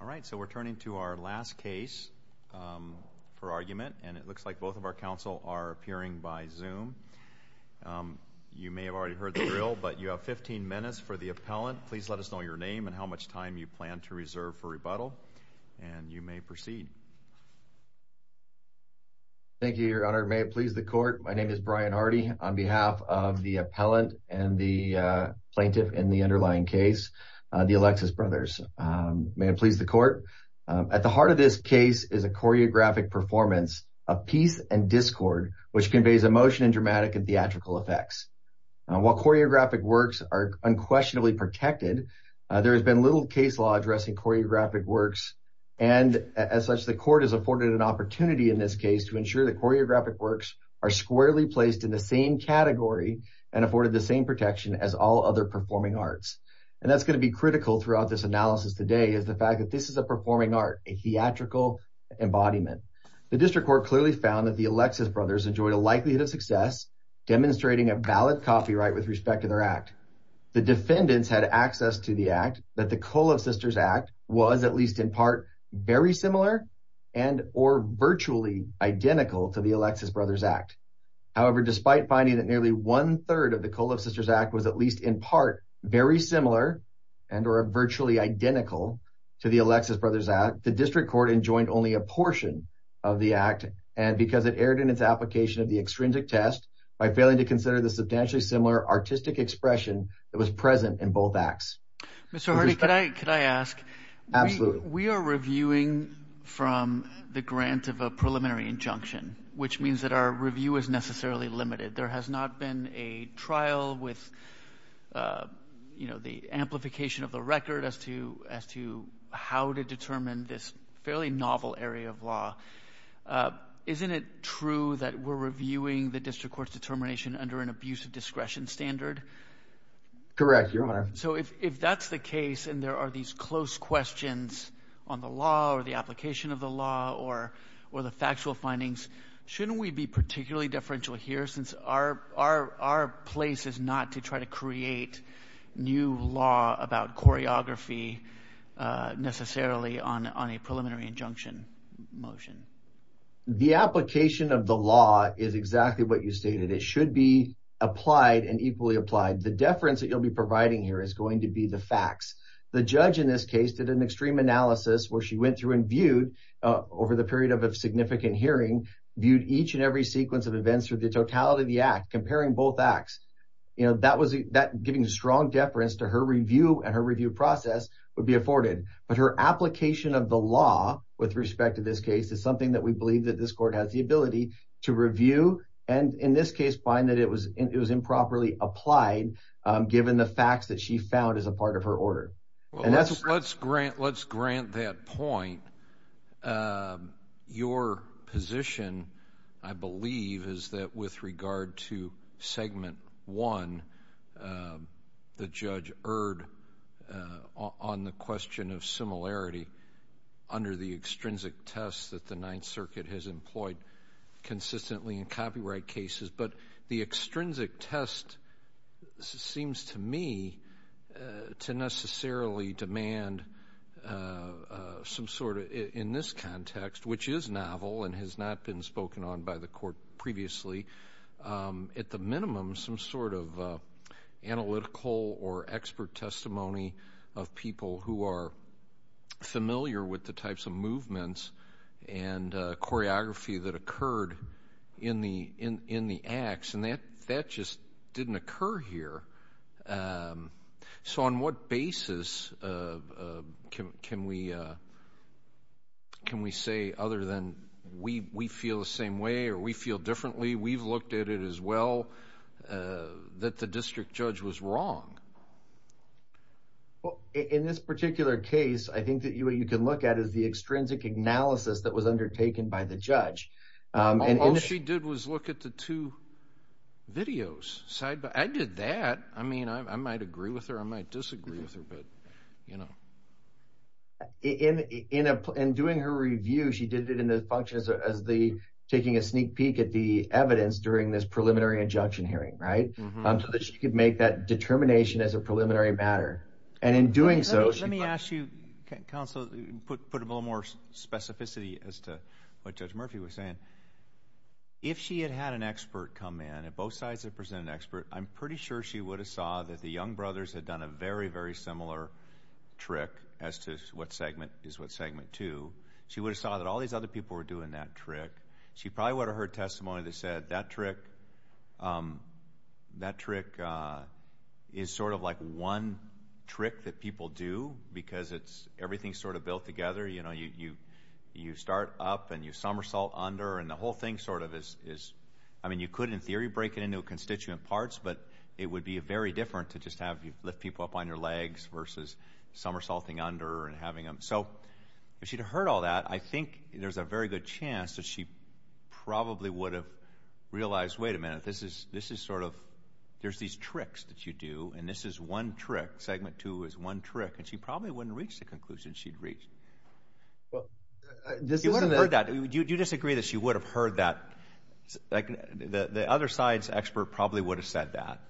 All right, so we're turning to our last case for argument, and it looks like both of our counsel are appearing by Zoom. You may have already heard the drill, but you have 15 minutes for the appellant. Please let us know your name and how much time you plan to reserve for rebuttal, and you may proceed. Thank you, Your Honor. May it please the court, my name is Brian Hardy. On behalf of the appellant and the plaintiff in the underlying case, the Alexis brothers, may it please the court, at the heart of this case is a choreographic performance of peace and discord, which conveys emotion and dramatic and theatrical effects. While choreographic works are unquestionably protected, there has been little case law addressing choreographic works, and as such, the court has afforded an opportunity in this case to ensure that choreographic works are squarely placed in the same category and afforded the same protection as all other performing arts. And that's going to be critical throughout this analysis today is the fact that this is a performing art, a theatrical embodiment. The district court clearly found that the Alexis brothers enjoyed a likelihood of success demonstrating a valid copyright with respect to their act. The defendants had access to the act that the Kolev sisters act was at least in part very similar and or virtually identical to the Alexis brothers act. The district court enjoined only a portion of the act and because it erred in its application of the extrinsic test by failing to consider the substantially similar artistic expression that was present in both acts. Mr. Hardy, could I could I ask? Absolutely. We are reviewing from the grant of a preliminary injunction, which means that our review is necessarily limited. There has not been a trial or a trial of the Kolev sisters act. There has not been a trial with the amplification of the record as to how to determine this fairly novel area of law. Isn't it true that we're reviewing the district court's determination under an abuse of discretion standard? Correct, your honor. So if that's the case and there are these close questions on the law or the application of the law or the factual findings, shouldn't we be particularly deferential here since our place is not to try to create new law about choreography necessarily on a preliminary injunction motion? The application of the law is exactly what you stated. It should be applied and equally applied. The deference that you'll be providing here is going to be the facts. The judge in this case did an extreme analysis where she went through and viewed over the period of a significant hearing viewed each and every sequence of events for the totality of the act comparing both acts. You know, that was that giving strong deference to her review and her review process would be afforded. But her application of the law with respect to this case is something that we believe that this court has the ability to review and in this case find that it was it was improperly applied given the facts that she found as a part of her order. And that's let's grant let's grant that point. Your position, I believe, is that with regard to segment one, the judge erred on the question of similarity under the extrinsic tests that the Ninth Circuit has employed consistently in copyright cases. But the extrinsic test seems to me to necessarily demand some sort of in this context, which is novel and has not been spoken on by the court previously, at the minimum, some sort of analytical or expert testimony of people who are familiar with the types of movements and choreography that occurred in the in the acts. And that that just didn't occur here. So on what basis can we can we say other than we we feel the same way or we feel differently? We've looked at it as well, that the district judge was wrong. Well, in this particular case, I think that you can look at is the extrinsic analysis that was undertaken by the judge. And all she did was look at the two videos side by I did that. I mean, I might agree with her. I might disagree with her. But, you know, in in doing her review, she did it in the functions as the taking a sneak peek at the evidence during this preliminary injunction hearing, right? So that she could make that determination as a preliminary matter. And in doing so, let me ask you, counsel, put a little more specificity as to what Judge Murphy was saying. If she had had an expert come in at both sides of present an expert, I'm pretty sure she would have saw that the young brothers had done a very, very similar trick as to what segment is what segment to. She would have saw that all these other people were doing that trick. She probably would have heard testimony that said that trick. That trick is sort of like one trick that people do because it's everything sort of built together. You know, you you start up and you somersault under and the whole thing sort of is. I mean, you could, in theory, break it into constituent parts, but it would be very different to just have you lift people up on your legs versus somersaulting under and having them. So if she'd heard all that, I think there's a very good chance that she probably would have realized, wait a minute, this is this is sort of there's these tricks that you do. And this is one trick. Segment two is one trick. And she probably wouldn't reach the conclusion she'd reached. Well, this is what I heard that you do disagree that she would have heard that the other side's expert probably would have said that.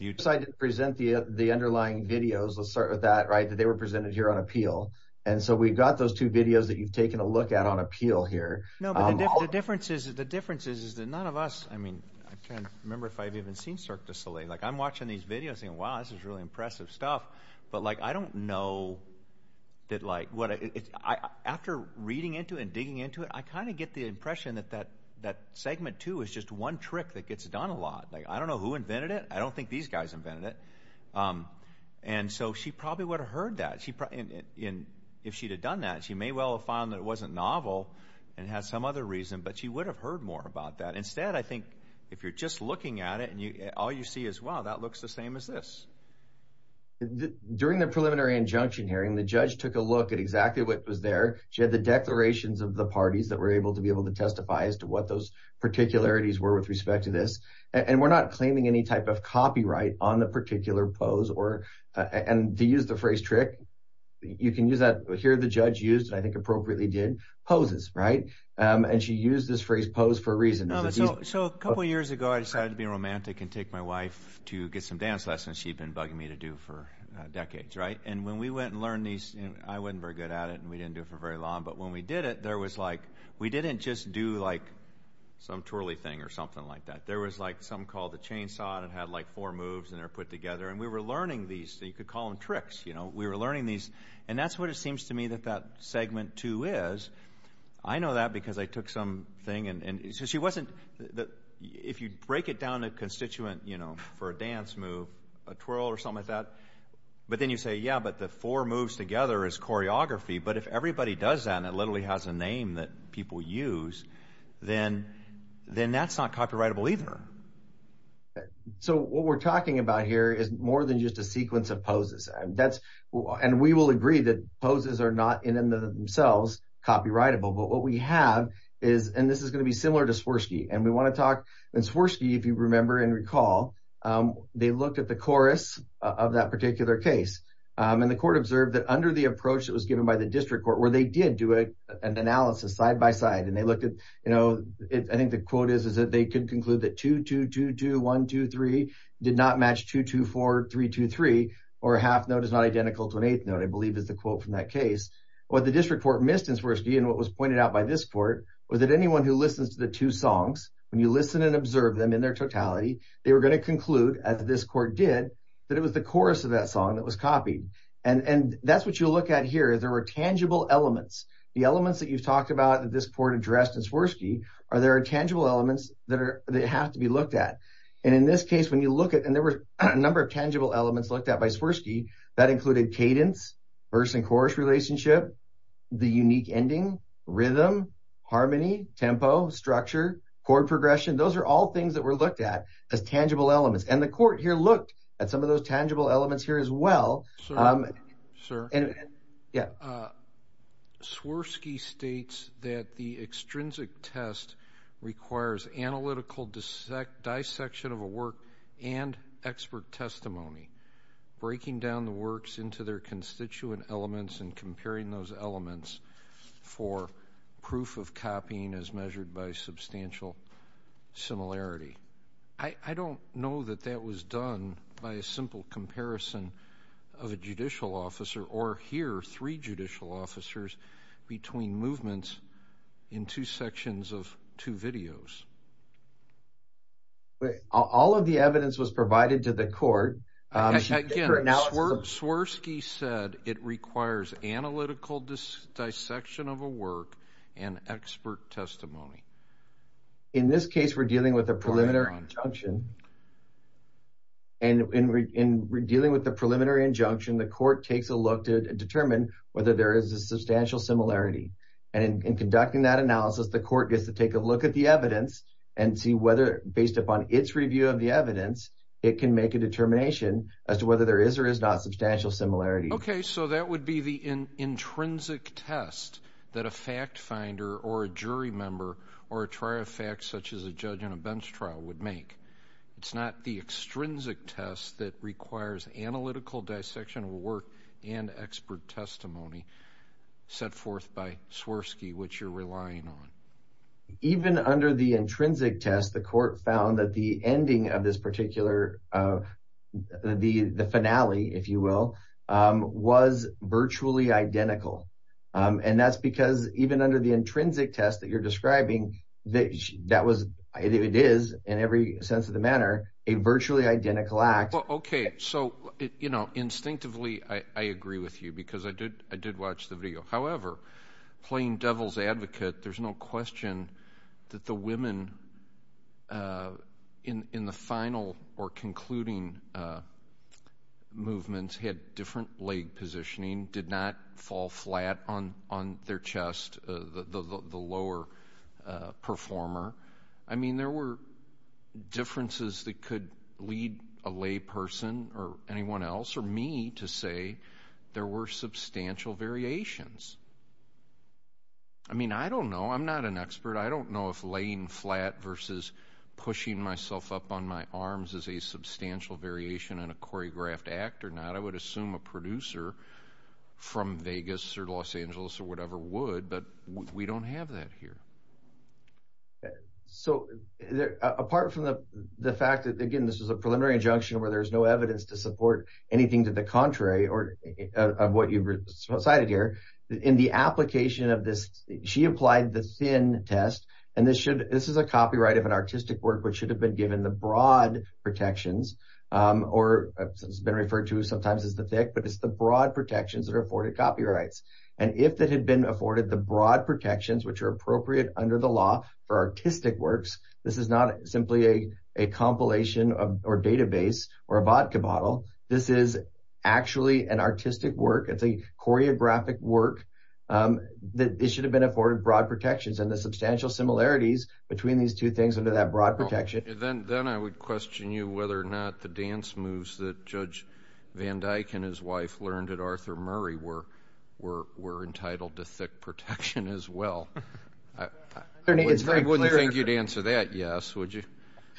You decide to present the underlying videos. Let's start with that, right, that they were presented here on appeal. And so we've got those two videos that you've taken a look at on appeal here. No, but the difference is, the difference is, is that none of us. I mean, I can't remember if I've even seen Cirque du Soleil. Like I'm watching these videos and wow, this is really impressive stuff. But like, I don't know that like what I after reading into and digging into it, I kind of get the impression that that that segment two is just one trick that gets done a lot. Like, I don't know who invented it. I don't think these guys invented it. And so she probably would have heard that she in if she'd have done that, she may well have found that it wasn't novel and has some other reason. But she would have heard more about that. Instead, I think if you're just looking at it and all you see as well, that looks the same as this. During the preliminary injunction hearing, the judge took a look at exactly what was there. She had the declarations of the parties that were able to be able to testify as to what those particularities were with respect to this. And we're not claiming any type of copyright on the particular pose or and to use the phrase trick. You can use that here. The judge used, I think, poses. Right. And she used this phrase pose for a reason. So a couple of years ago, I decided to be romantic and take my wife to get some dance lessons she'd been bugging me to do for decades. Right. And when we went and learned these, I wasn't very good at it and we didn't do it for very long. But when we did it, there was like we didn't just do like some twirly thing or something like that. There was like some called the chainsaw and had like four moves and they're put together. And we were learning these. So you could call them tricks. You know, we were learning these. And that's what it seems to me that that segment, too, is. I know that because I took some thing. And so she wasn't that if you break it down a constituent, you know, for a dance move, a twirl or something like that. But then you say, yeah, but the four moves together is choreography. But if everybody does that and it literally has a name that people use, then then that's not copyrightable either. So what we're talking about here is more than just a sequence of poses. That's and we will agree that poses are not in themselves copyrightable. But what we have is and this is going to be similar to Swirsky and we want to talk. And Swirsky, if you remember and recall, they looked at the chorus of that particular case and the court observed that under the approach that was given by the district court where they did do an analysis side by side and they looked at, you know, I think the quote is that they could conclude that two, two, two, one, two, three did not match two, two, four, three, two, three or a half note is not identical to an eighth note, I believe is the quote from that case. What the district court missed in Swirsky and what was pointed out by this court was that anyone who listens to the two songs, when you listen and observe them in their totality, they were going to conclude, as this court did, that it was the chorus of that song that was copied. And that's what you look at here. There were tangible elements. The elements that you've talked about that this court addressed in Swirsky are there are tangible elements that have to be looked at. And in this case, when you look at, and there were a number of tangible elements looked at by Swirsky, that included cadence, verse and chorus relationship, the unique ending, rhythm, harmony, tempo, structure, chord progression. Those are all things that were looked at as tangible elements. And the court here looked at some of those tangible elements here as well. Sir, Swirsky states that the extrinsic test requires analytical dissection of a work and expert testimony, breaking down the works into their constituent elements and comparing those elements for proof of copying as measured by substantial similarity. I don't know that that was done by a simple comparison of a judicial officer or here three judicial officers between movements in two sections of two videos. All of the evidence was provided to the court. Swirsky said it requires analytical dissection of a work and expert testimony. In this case, we're dealing with a preliminary injunction. And in dealing with the preliminary injunction, the court takes a look to determine whether there is a substantial similarity. And in conducting that analysis, the court gets to take a look at the evidence and see whether based upon its review of the evidence, it can make a determination as to whether there is or is not substantial similarity. Okay, so that would be the intrinsic test that a fact finder or a jury member or a trial fact such as a judge on a bench trial would make. It's not the extrinsic test that requires analytical dissection of a work and expert testimony set forth by Swirsky, which you're relying on. Even under the intrinsic test, the court found that the ending of this particular, the finale, if you will, was virtually identical. And that's because even under the intrinsic test that you're describing, that was, it is in every sense of the matter, a virtually identical act. Okay, so, you know, instinctively, I agree with you because I did, I did watch the video. However, playing devil's advocate, there's no question that the women in the final or concluding movements had different leg positioning, did not fall flat on their chest, the lower performer. I mean, there were differences that could lead a lay person or anyone else or me to say there were substantial variations. I mean, I don't know. I'm not an expert. I don't know if on a choreographed act or not. I would assume a producer from Vegas or Los Angeles or whatever would, but we don't have that here. So, apart from the fact that, again, this is a preliminary injunction where there's no evidence to support anything to the contrary or what you've cited here, in the application of this, she applied the thin test. And this should, this is a copyright of an artistic work, which should have been given the broad protections. Or it's been referred to sometimes as the thick, but it's the broad protections that are afforded copyrights. And if that had been afforded the broad protections, which are appropriate under the law for artistic works, this is not simply a compilation of or database or a vodka bottle. This is actually an artistic work. It's a choreographic work that it should have been afforded broad protections and the substantial similarities between these two things under that broad protection. Then I would question you whether or not the dance moves that Judge Van Dyke and his wife learned at Arthur Murray were entitled to thick protection as well. I wouldn't think you'd answer that yes, would you?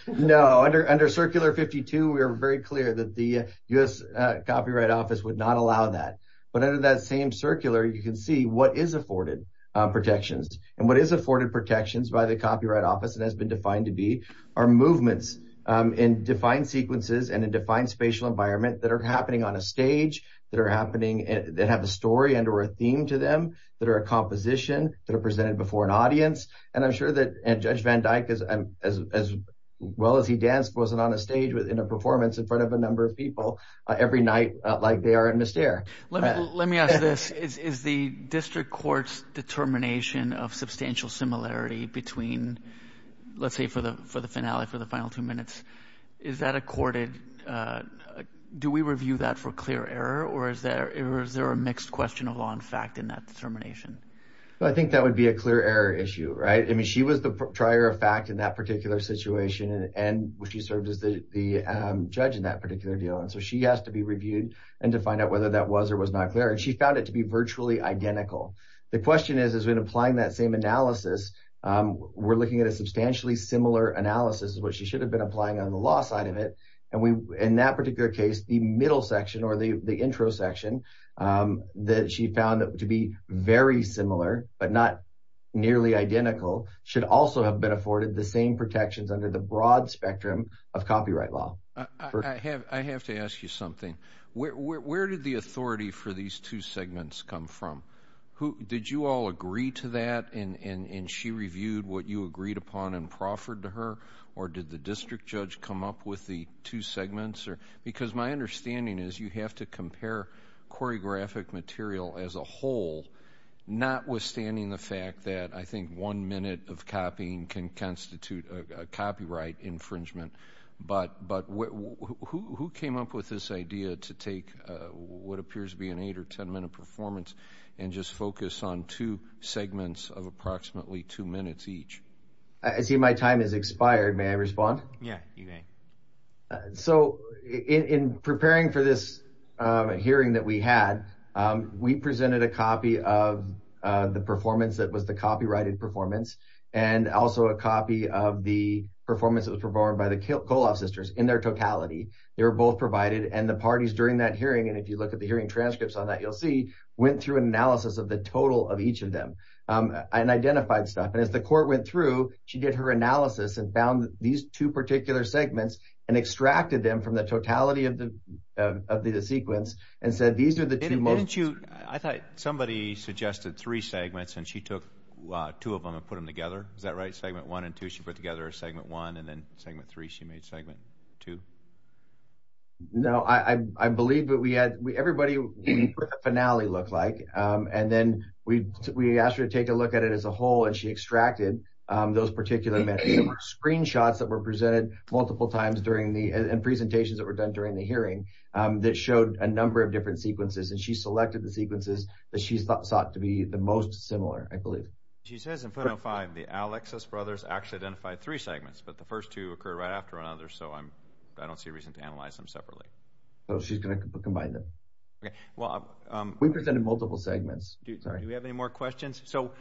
No, under Circular 52, we are very clear that the U.S. Copyright Office would not allow that. But under that same circular, you can see what is afforded protections. And what is afforded protections by the Copyright Office and has been defined to be our movements in defined sequences and in defined spatial environment that are happening on a stage that are happening that have a story and or a theme to them that are a composition that are presented before an audience. And I'm sure that Judge Van Dyke, as well as he danced, wasn't on a stage within a performance in front of a number of people every night like they are in Mystere. Let me ask this. Is the district court's determination of substantial similarity between, let's say for the finale, for the final two minutes, is that accorded? Do we review that for clear error or is there a mixed question of law and fact in that determination? I think that would be a clear error issue, right? I mean, she was the trier of fact in that particular situation and she served as the judge in that particular deal. So she has to be reviewed and to find out whether that was or was not clear. She found it to be virtually identical. The question is, is when applying that same analysis, we're looking at a substantially similar analysis, which she should have been applying on the law side of it. And in that particular case, the middle section or the intro section that she found to be very similar, but not nearly identical, should also have been afforded the same law. I have to ask you something. Where did the authority for these two segments come from? Did you all agree to that and she reviewed what you agreed upon and proffered to her? Or did the district judge come up with the two segments? Because my understanding is you have to compare choreographic material as a whole, notwithstanding the fact that I think one minute of copying can constitute a copyright infringement. But who came up with this idea to take what appears to be an eight or ten minute performance and just focus on two segments of approximately two minutes each? I see my time has expired. May I respond? Yeah, you may. So in preparing for this hearing that we had, we presented a copy of the performance that was the and also a copy of the performance that was performed by the Koloff sisters in their totality. They were both provided and the parties during that hearing, and if you look at the hearing transcripts on that, you'll see, went through an analysis of the total of each of them and identified stuff. And as the court went through, she did her analysis and found these two particular segments and extracted them from the totality of the sequence and said, these are the two most... I thought somebody suggested three segments and she took two of them and put them together. Is that right? Segment one and two, she put together a segment one and then segment three, she made segment two. No, I believe that we had, everybody, finale looked like, and then we asked her to take a look at it as a whole and she extracted those particular screenshots that were presented multiple times during the presentations that were done during the hearing that showed a number of different sequences. And she selected the Alexis brothers actually identified three segments, but the first two occurred right after another. So I don't see a reason to analyze them separately. So she's going to combine them. We presented multiple segments. Do we have any more questions? So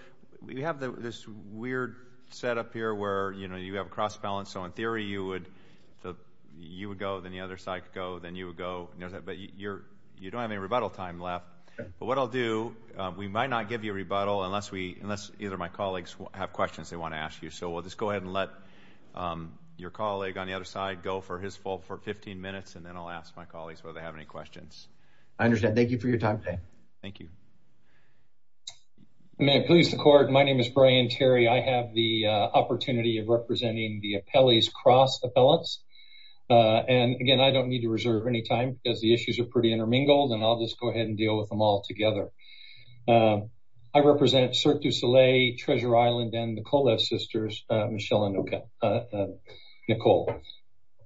we have this weird setup here where you have a cross balance. So in theory, you would go, then the other side could go, then you would go, but you don't have any rebuttal time left. But what I'll do, we might not give you a rebuttal unless either my colleagues have questions they want to ask you. So we'll just go ahead and let your colleague on the other side go for his fault for 15 minutes. And then I'll ask my colleagues whether they have any questions. I understand. Thank you for your time today. Thank you. May I please the court. My name is Brian Terry. I have the opportunity of representing the appellees cross appellants. And again, I don't need to reserve any time because the issues are pretty intermingled and I'll just go ahead and deal with them all together. I represent Cirque du Soleil, Treasure Island, and the Kolev sisters, Michelle and Nicole.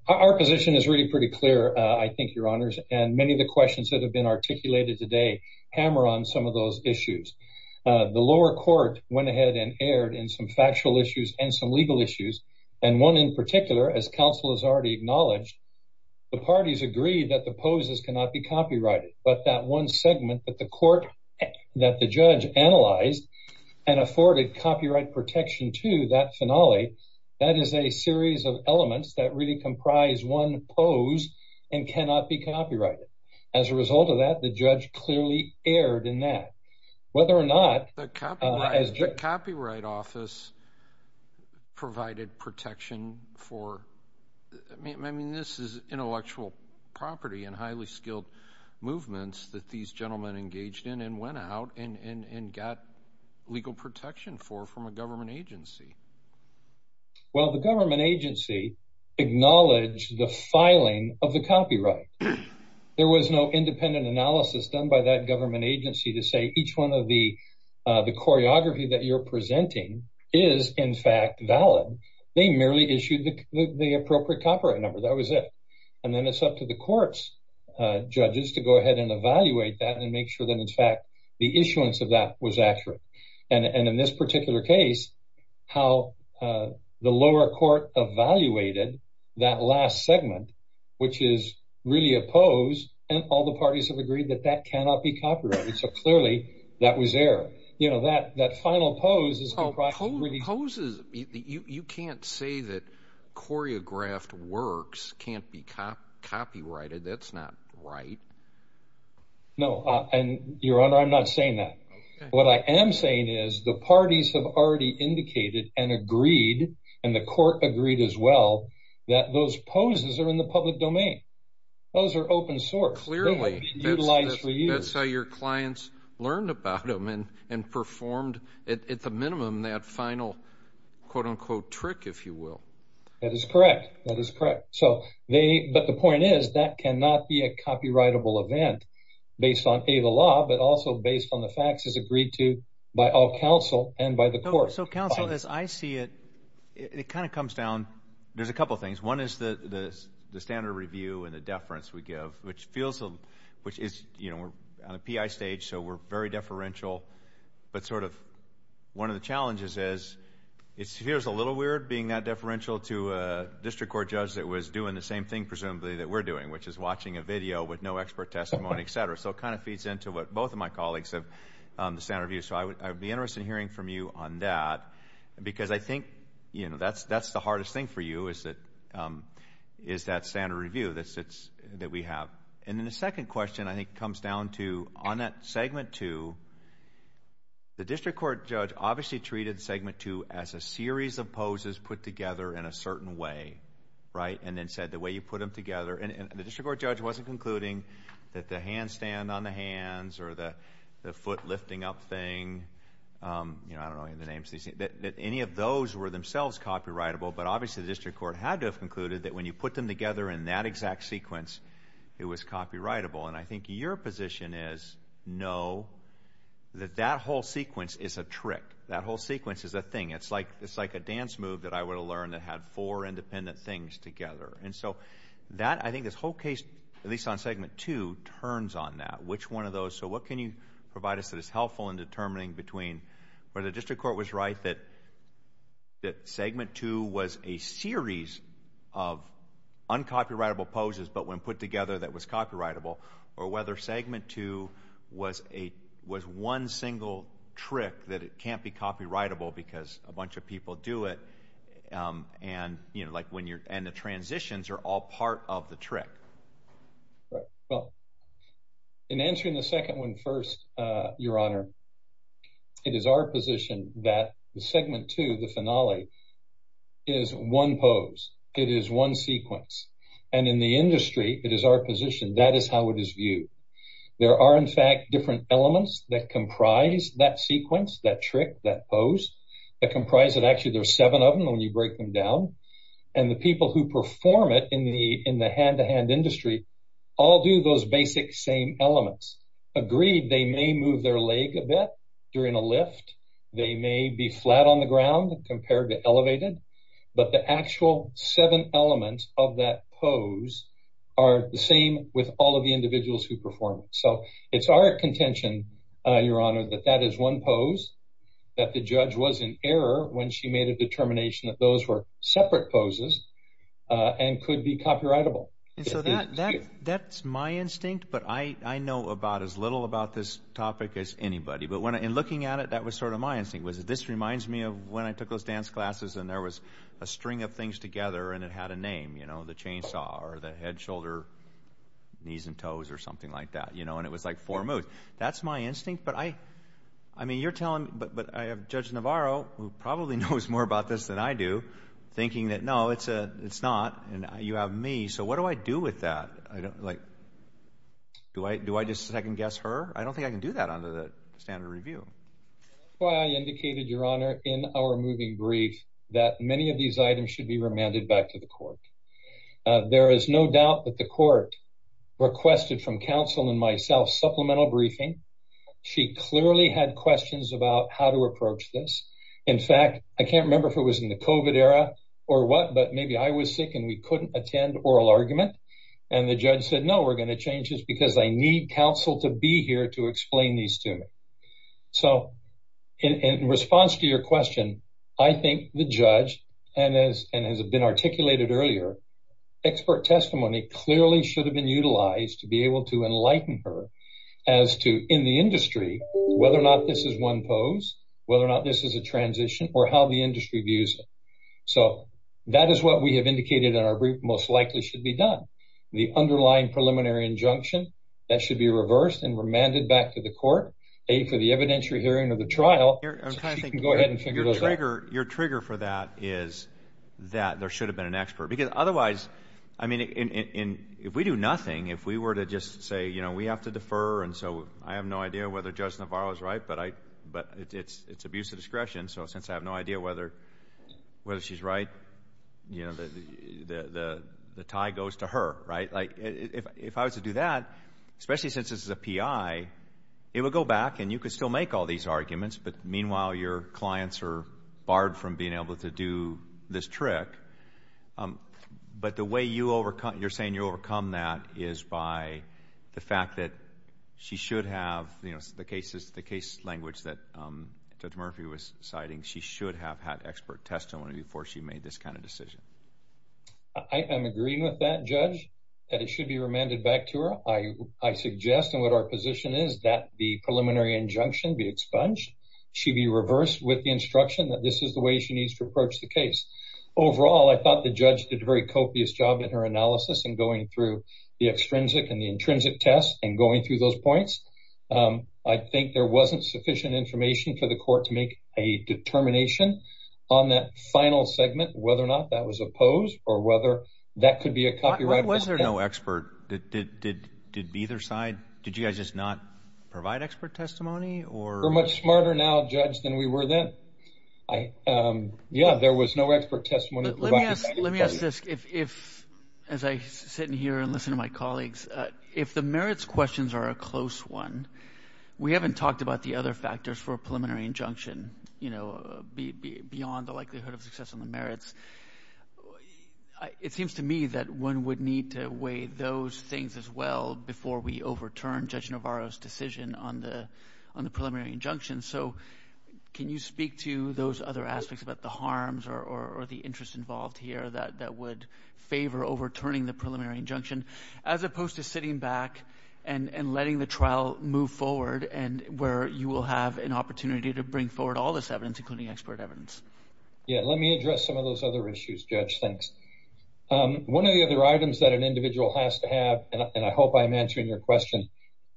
Our position is really pretty clear, I think, your honors, and many of the questions that have been articulated today hammer on some of those issues. The lower court went ahead and erred in some factual issues and some legal issues. And one in particular, as counsel has already acknowledged, the parties agreed that the poses cannot be copyrighted. But that one segment that the court that the judge analyzed and afforded copyright protection to that finale, that is a series of elements that really comprise one pose and cannot be copyrighted. As a result of that, the judge clearly erred in that. Whether or not... The copyright office provided protection for... I mean, this is intellectual property and highly skilled movements that these gentlemen engaged in and went out and got legal protection for from a government agency. Well, the government agency acknowledged the filing of the copyright. There was no independent analysis done by that government agency to say each one of the choreography that you're presenting is, in fact, valid. They merely issued the appropriate copyright number. That was it. And then it's up to the court's judges to go ahead and evaluate that and make sure that, in fact, the issuance of that was accurate. And in this particular case, how the lower court evaluated that last segment, which is really a pose, and all the parties have agreed that that cannot be copyrighted. So clearly, that was error. You know, that final pose is... Oh, poses. You can't say that choreographed works can't be copyrighted. That's not right. No. And, Your Honor, I'm not saying that. What I am saying is the parties have already indicated and agreed, and the court agreed as well, that those poses are in the public domain. Those are open source. Clearly. They've been utilized for years. That's how your clients learned about them and performed, at the minimum, that final, quote-unquote, trick, if you will. That is correct. That is correct. But the point is, that cannot be a copyrightable event based on, A, the law, but also based on the facts as agreed to by all counsel and by the court. So, counsel, as I see it, it kind of comes down... There's a couple of things. One is the standard review and the deference we give, which is, you know, we're on a PI stage, so we're very deferential. But sort of one of the challenges is, it appears a little weird being that deferential to a district court judge that was doing the same thing, presumably, that we're doing, which is watching a video with no expert testimony, et cetera. So it kind of feeds into what both of my colleagues have said. So I would be interested in hearing from you on that, because I think, you know, that's the hardest thing for you, is that standard review that we have. And then the second question, I think, comes down to, on that segment two, the district court judge obviously treated segment two as a series of poses put together in a certain way, right? And then said the way you put them together... And the district court judge wasn't concluding that the handstand on the hands or the foot lifting up thing, you know, I don't know the names, that any of those were themselves copyrightable. But obviously, the district court had to have concluded that when you put them together in that exact sequence, it was copyrightable. And I think your position is, no, that that whole sequence is a trick. That whole sequence is a thing. It's like a dance move that I would have learned that had four independent things together. And so that, I think this whole case, at least on segment two, turns on that, which one of those. So what can you provide us that is helpful in determining between whether the district court was right that segment two was a series of uncopyrightable poses, but when put together that was copyrightable, or whether segment two was one single trick that it can't be copyrightable because a bunch of people do it. And the transitions are all part of the trick. Right. Well, in answering the second one first, your honor, it is our position that the segment two, the finale, is one pose. It is one sequence. And in the industry, it is our position. That is how it is viewed. There are, in fact, different elements that comprise that sequence, that trick, that pose, that comprise it. Actually, there's seven of them when you break them down. And the people who perform it in the hand-to-hand move their leg a bit during a lift. They may be flat on the ground compared to elevated, but the actual seven elements of that pose are the same with all of the individuals who perform it. So it's our contention, your honor, that that is one pose, that the judge was in error when she made a determination that those were separate poses and could be copyrightable. And so that's my instinct. But I know about as little about this topic as anybody. But in looking at it, that was sort of my instinct, was that this reminds me of when I took those dance classes and there was a string of things together and it had a name, you know, the chainsaw or the head, shoulder, knees and toes or something like that, you know, and it was like four moves. That's my instinct. But I mean, you're telling me, but I have Judge Navarro, who probably knows more about this than I do, thinking that, no, it's not. And you have me. So what do I do with that? Like, do I do I just second guess her? I don't think I can do that under the standard review. Well, I indicated, your honor, in our moving brief that many of these items should be remanded back to the court. There is no doubt that the court requested from counsel and myself supplemental briefing. She clearly had questions about how to approach this. In fact, I can't remember if it was in the covid era or what, but maybe I was sick and we couldn't attend oral argument. And the judge said, no, we're going to change this because I need counsel to be here to explain these to me. So in response to your question, I think the judge and has been articulated earlier, expert testimony clearly should have been utilized to be able to enlighten her as to in the industry, whether or not this is one pose, whether or not this is a transition or how the the underlying preliminary injunction that should be reversed and remanded back to the court aid for the evidentiary hearing of the trial. Go ahead and figure your trigger. Your trigger for that is that there should have been an expert because otherwise, I mean, if we do nothing, if we were to just say, you know, we have to defer. And so I have no idea whether Judge Navarro is right. But I but it's it's abuse of discretion. So since I have no idea whether whether she's right, you know, the tie goes to her. Right. Like if I was to do that, especially since this is a P.I., it would go back and you could still make all these arguments. But meanwhile, your clients are barred from being able to do this trick. But the way you overcome, you're saying you overcome that is by the fact that she should have the cases, the case language that Judge Murphy was citing. She should have had expert testimony before she made this kind decision. I am agreeing with that judge that it should be remanded back to her. I I suggest and what our position is that the preliminary injunction be expunged. She be reversed with the instruction that this is the way she needs to approach the case. Overall, I thought the judge did a very copious job in her analysis and going through the extrinsic and the intrinsic test and going through those points. I think there wasn't sufficient information for the court to make a determination on that final segment, whether or not that was opposed or whether that could be a copyright. Was there no expert that did did did be either side? Did you guys just not provide expert testimony or are much smarter now, judge, than we were then? I yeah, there was no expert testimony. Let me ask. Let me ask if if as I sit in here and listen to my colleagues, if the merits questions are a close one, we haven't talked about the other factors for a preliminary injunction, you know, beyond the likelihood of success on the merits. It seems to me that one would need to weigh those things as well before we overturn Judge Navarro's decision on the on the preliminary injunction. So can you speak to those other aspects about the harms or the interest involved here that would favor overturning the preliminary injunction as opposed to sitting back and letting the trial move forward and where you will have an opportunity to bring forward all this evidence, including expert evidence? Yeah, let me address some of those other issues, Judge. Thanks. One of the other items that an individual has to have, and I hope I'm answering your question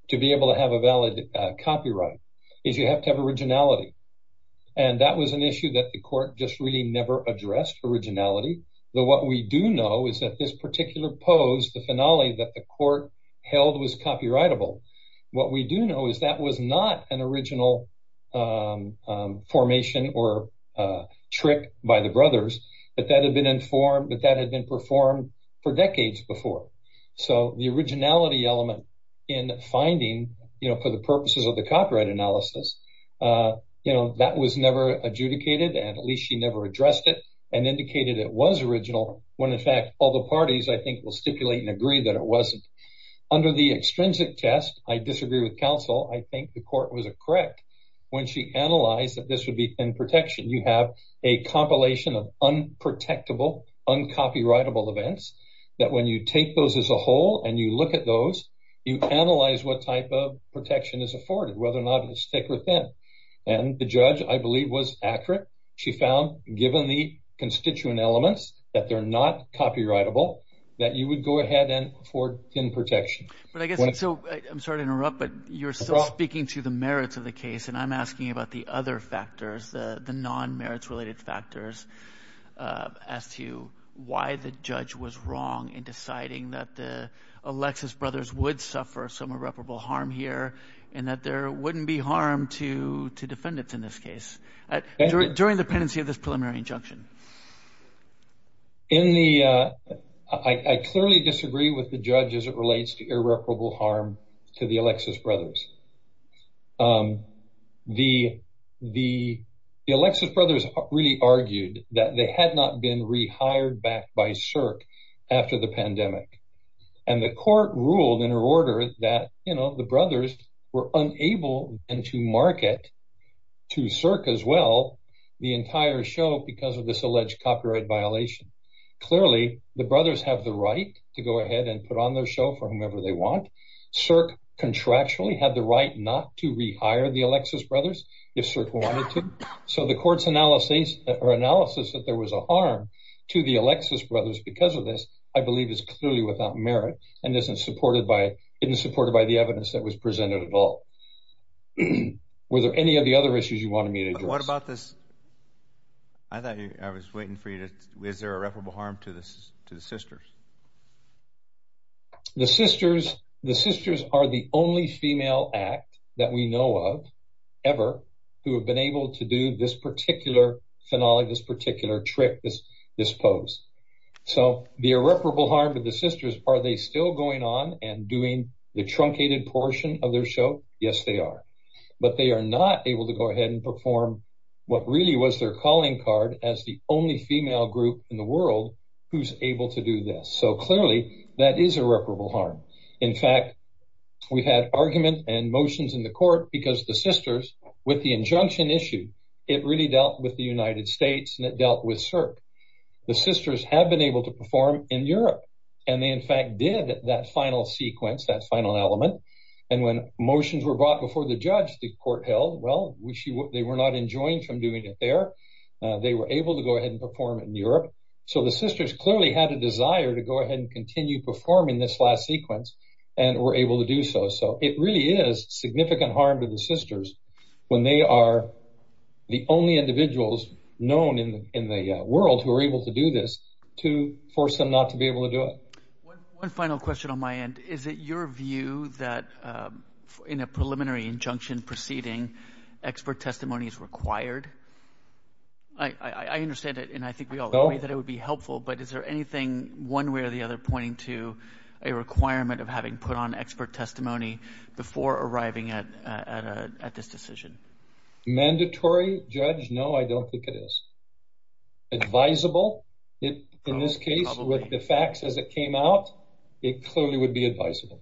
to be able to have a valid copyright is you have to have originality. And that was an issue that the court just really never addressed originality. Though what we do know is that this particular pose, the finale that the court held was a formation or a trick by the brothers, that that had been informed, that that had been performed for decades before. So the originality element in finding, you know, for the purposes of the copyright analysis, you know, that was never adjudicated, and at least she never addressed it and indicated it was original, when in fact all the parties, I think, will stipulate and agree that it wasn't. Under the extrinsic test, I disagree with counsel, I think the court was correct when she analyzed that this would be thin protection. You have a compilation of unprotectable, uncopyrightable events that when you take those as a whole and you look at those, you analyze what type of protection is afforded, whether or not it's thick or thin. And the judge, I believe, was accurate. She found, given the constituent elements, that they're not copyrightable, that you would go ahead and afford thin protection. But I guess, I'm sorry to interrupt, but you're still speaking to the merits of the case, and I'm asking about the other factors, the non-merits related factors, as to why the judge was wrong in deciding that the Alexis brothers would suffer some irreparable harm here, and that there wouldn't be harm to defendants in this case, during the pendency of this preliminary injunction. In the, I clearly disagree with the judge as it relates to irreparable harm to the Alexis brothers. The Alexis brothers really argued that they had not been rehired back by CERC after the pandemic. And the court ruled in her order that, you know, the brothers were unable and to market to CERC as well, the entire show, because of this alleged copyright violation. Clearly, the brothers have the right to go ahead and put on their show for whomever they want. CERC contractually had the right not to rehire the Alexis brothers, if CERC wanted to. So, the court's analysis that there was a harm to the Alexis brothers because of this, I believe, is clearly without merit, and isn't supported by the evidence that was presented at all. Were there any of the other issues you wanted me to address? What about this, I thought I was waiting for you to, is there irreparable harm to the sisters? The sisters, the sisters are the only female act that we know of, ever, who have been able to do this particular finale, this particular trick, this pose. So, the irreparable harm to the sisters, are they still going on and doing the truncated portion of their show? Yes, they are. But they are not able to go ahead and perform what really was their calling card as the only female group in the world who's able to do this. So, clearly, that is irreparable harm. In fact, we've had argument and motions in the court because the sisters, with the injunction issue, it really dealt with the United States and it dealt with CERC. The sisters have been able to perform in did that final sequence, that final element. And when motions were brought before the judge, the court held, well, they were not enjoined from doing it there. They were able to go ahead and perform it in Europe. So, the sisters clearly had a desire to go ahead and continue performing this last sequence and were able to do so. So, it really is significant harm to the sisters when they are the only individuals known in the world who are able to do this to force them not to be One final question on my end. Is it your view that in a preliminary injunction proceeding, expert testimony is required? I understand it and I think we all agree that it would be helpful, but is there anything, one way or the other, pointing to a requirement of having put on expert testimony before arriving at this decision? Mandatory, Judge? No, I don't think it is. Advisable, in this case, with the facts as it came out, it clearly would be advisable.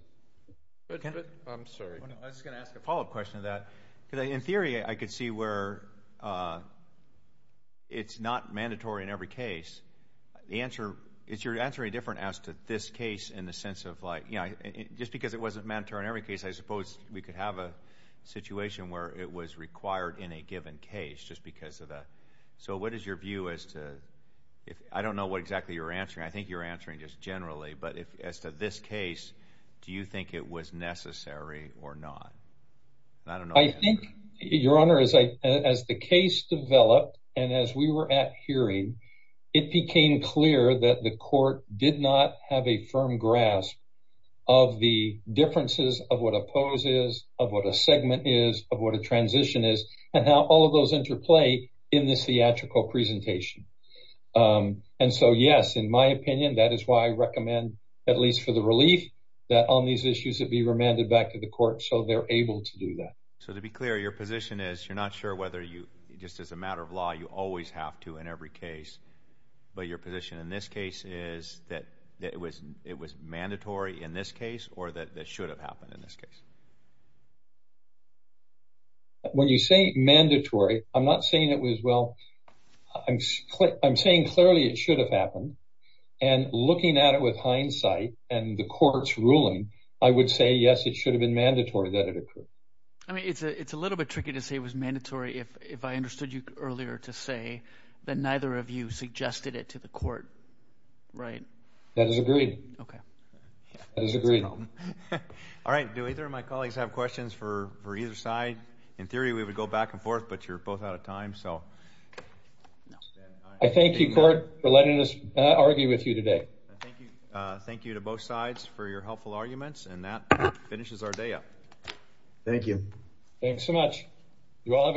I'm sorry. I was going to ask a follow-up question to that. In theory, I could see where it's not mandatory in every case. Is your answer any different as to this case in the sense of, just because it wasn't mandatory in every case, I suppose we could have a situation where it was your view as to, I don't know what exactly you're answering, I think you're answering just generally, but as to this case, do you think it was necessary or not? I think, Your Honor, as the case developed and as we were at hearing, it became clear that the court did not have a firm grasp of the differences of what a pose is, of what a segment is, of what a transition is, and how all of those interplay in this theatrical presentation. And so, yes, in my opinion, that is why I recommend, at least for the relief, that on these issues it be remanded back to the court so they're able to do that. So, to be clear, your position is you're not sure whether you, just as a matter of law, you always have to in every case, but your position in this case is that it was mandatory in this case or that it should have happened in this case. When you say mandatory, I'm not saying it was, well, I'm saying clearly it should have happened and looking at it with hindsight and the court's ruling, I would say, yes, it should have been mandatory that it occurred. I mean, it's a little bit tricky to say it was mandatory if I understood you earlier to say that neither of you suggested it to the court, right? That is agreed. All right. Do either of my colleagues have questions for either side? In theory, we would go back and forth, but you're both out of time. I thank you, court, for letting us argue with you today. Thank you to both sides for your helpful arguments, and that finishes our day up. Thank you. Thanks so much. You all have a good day.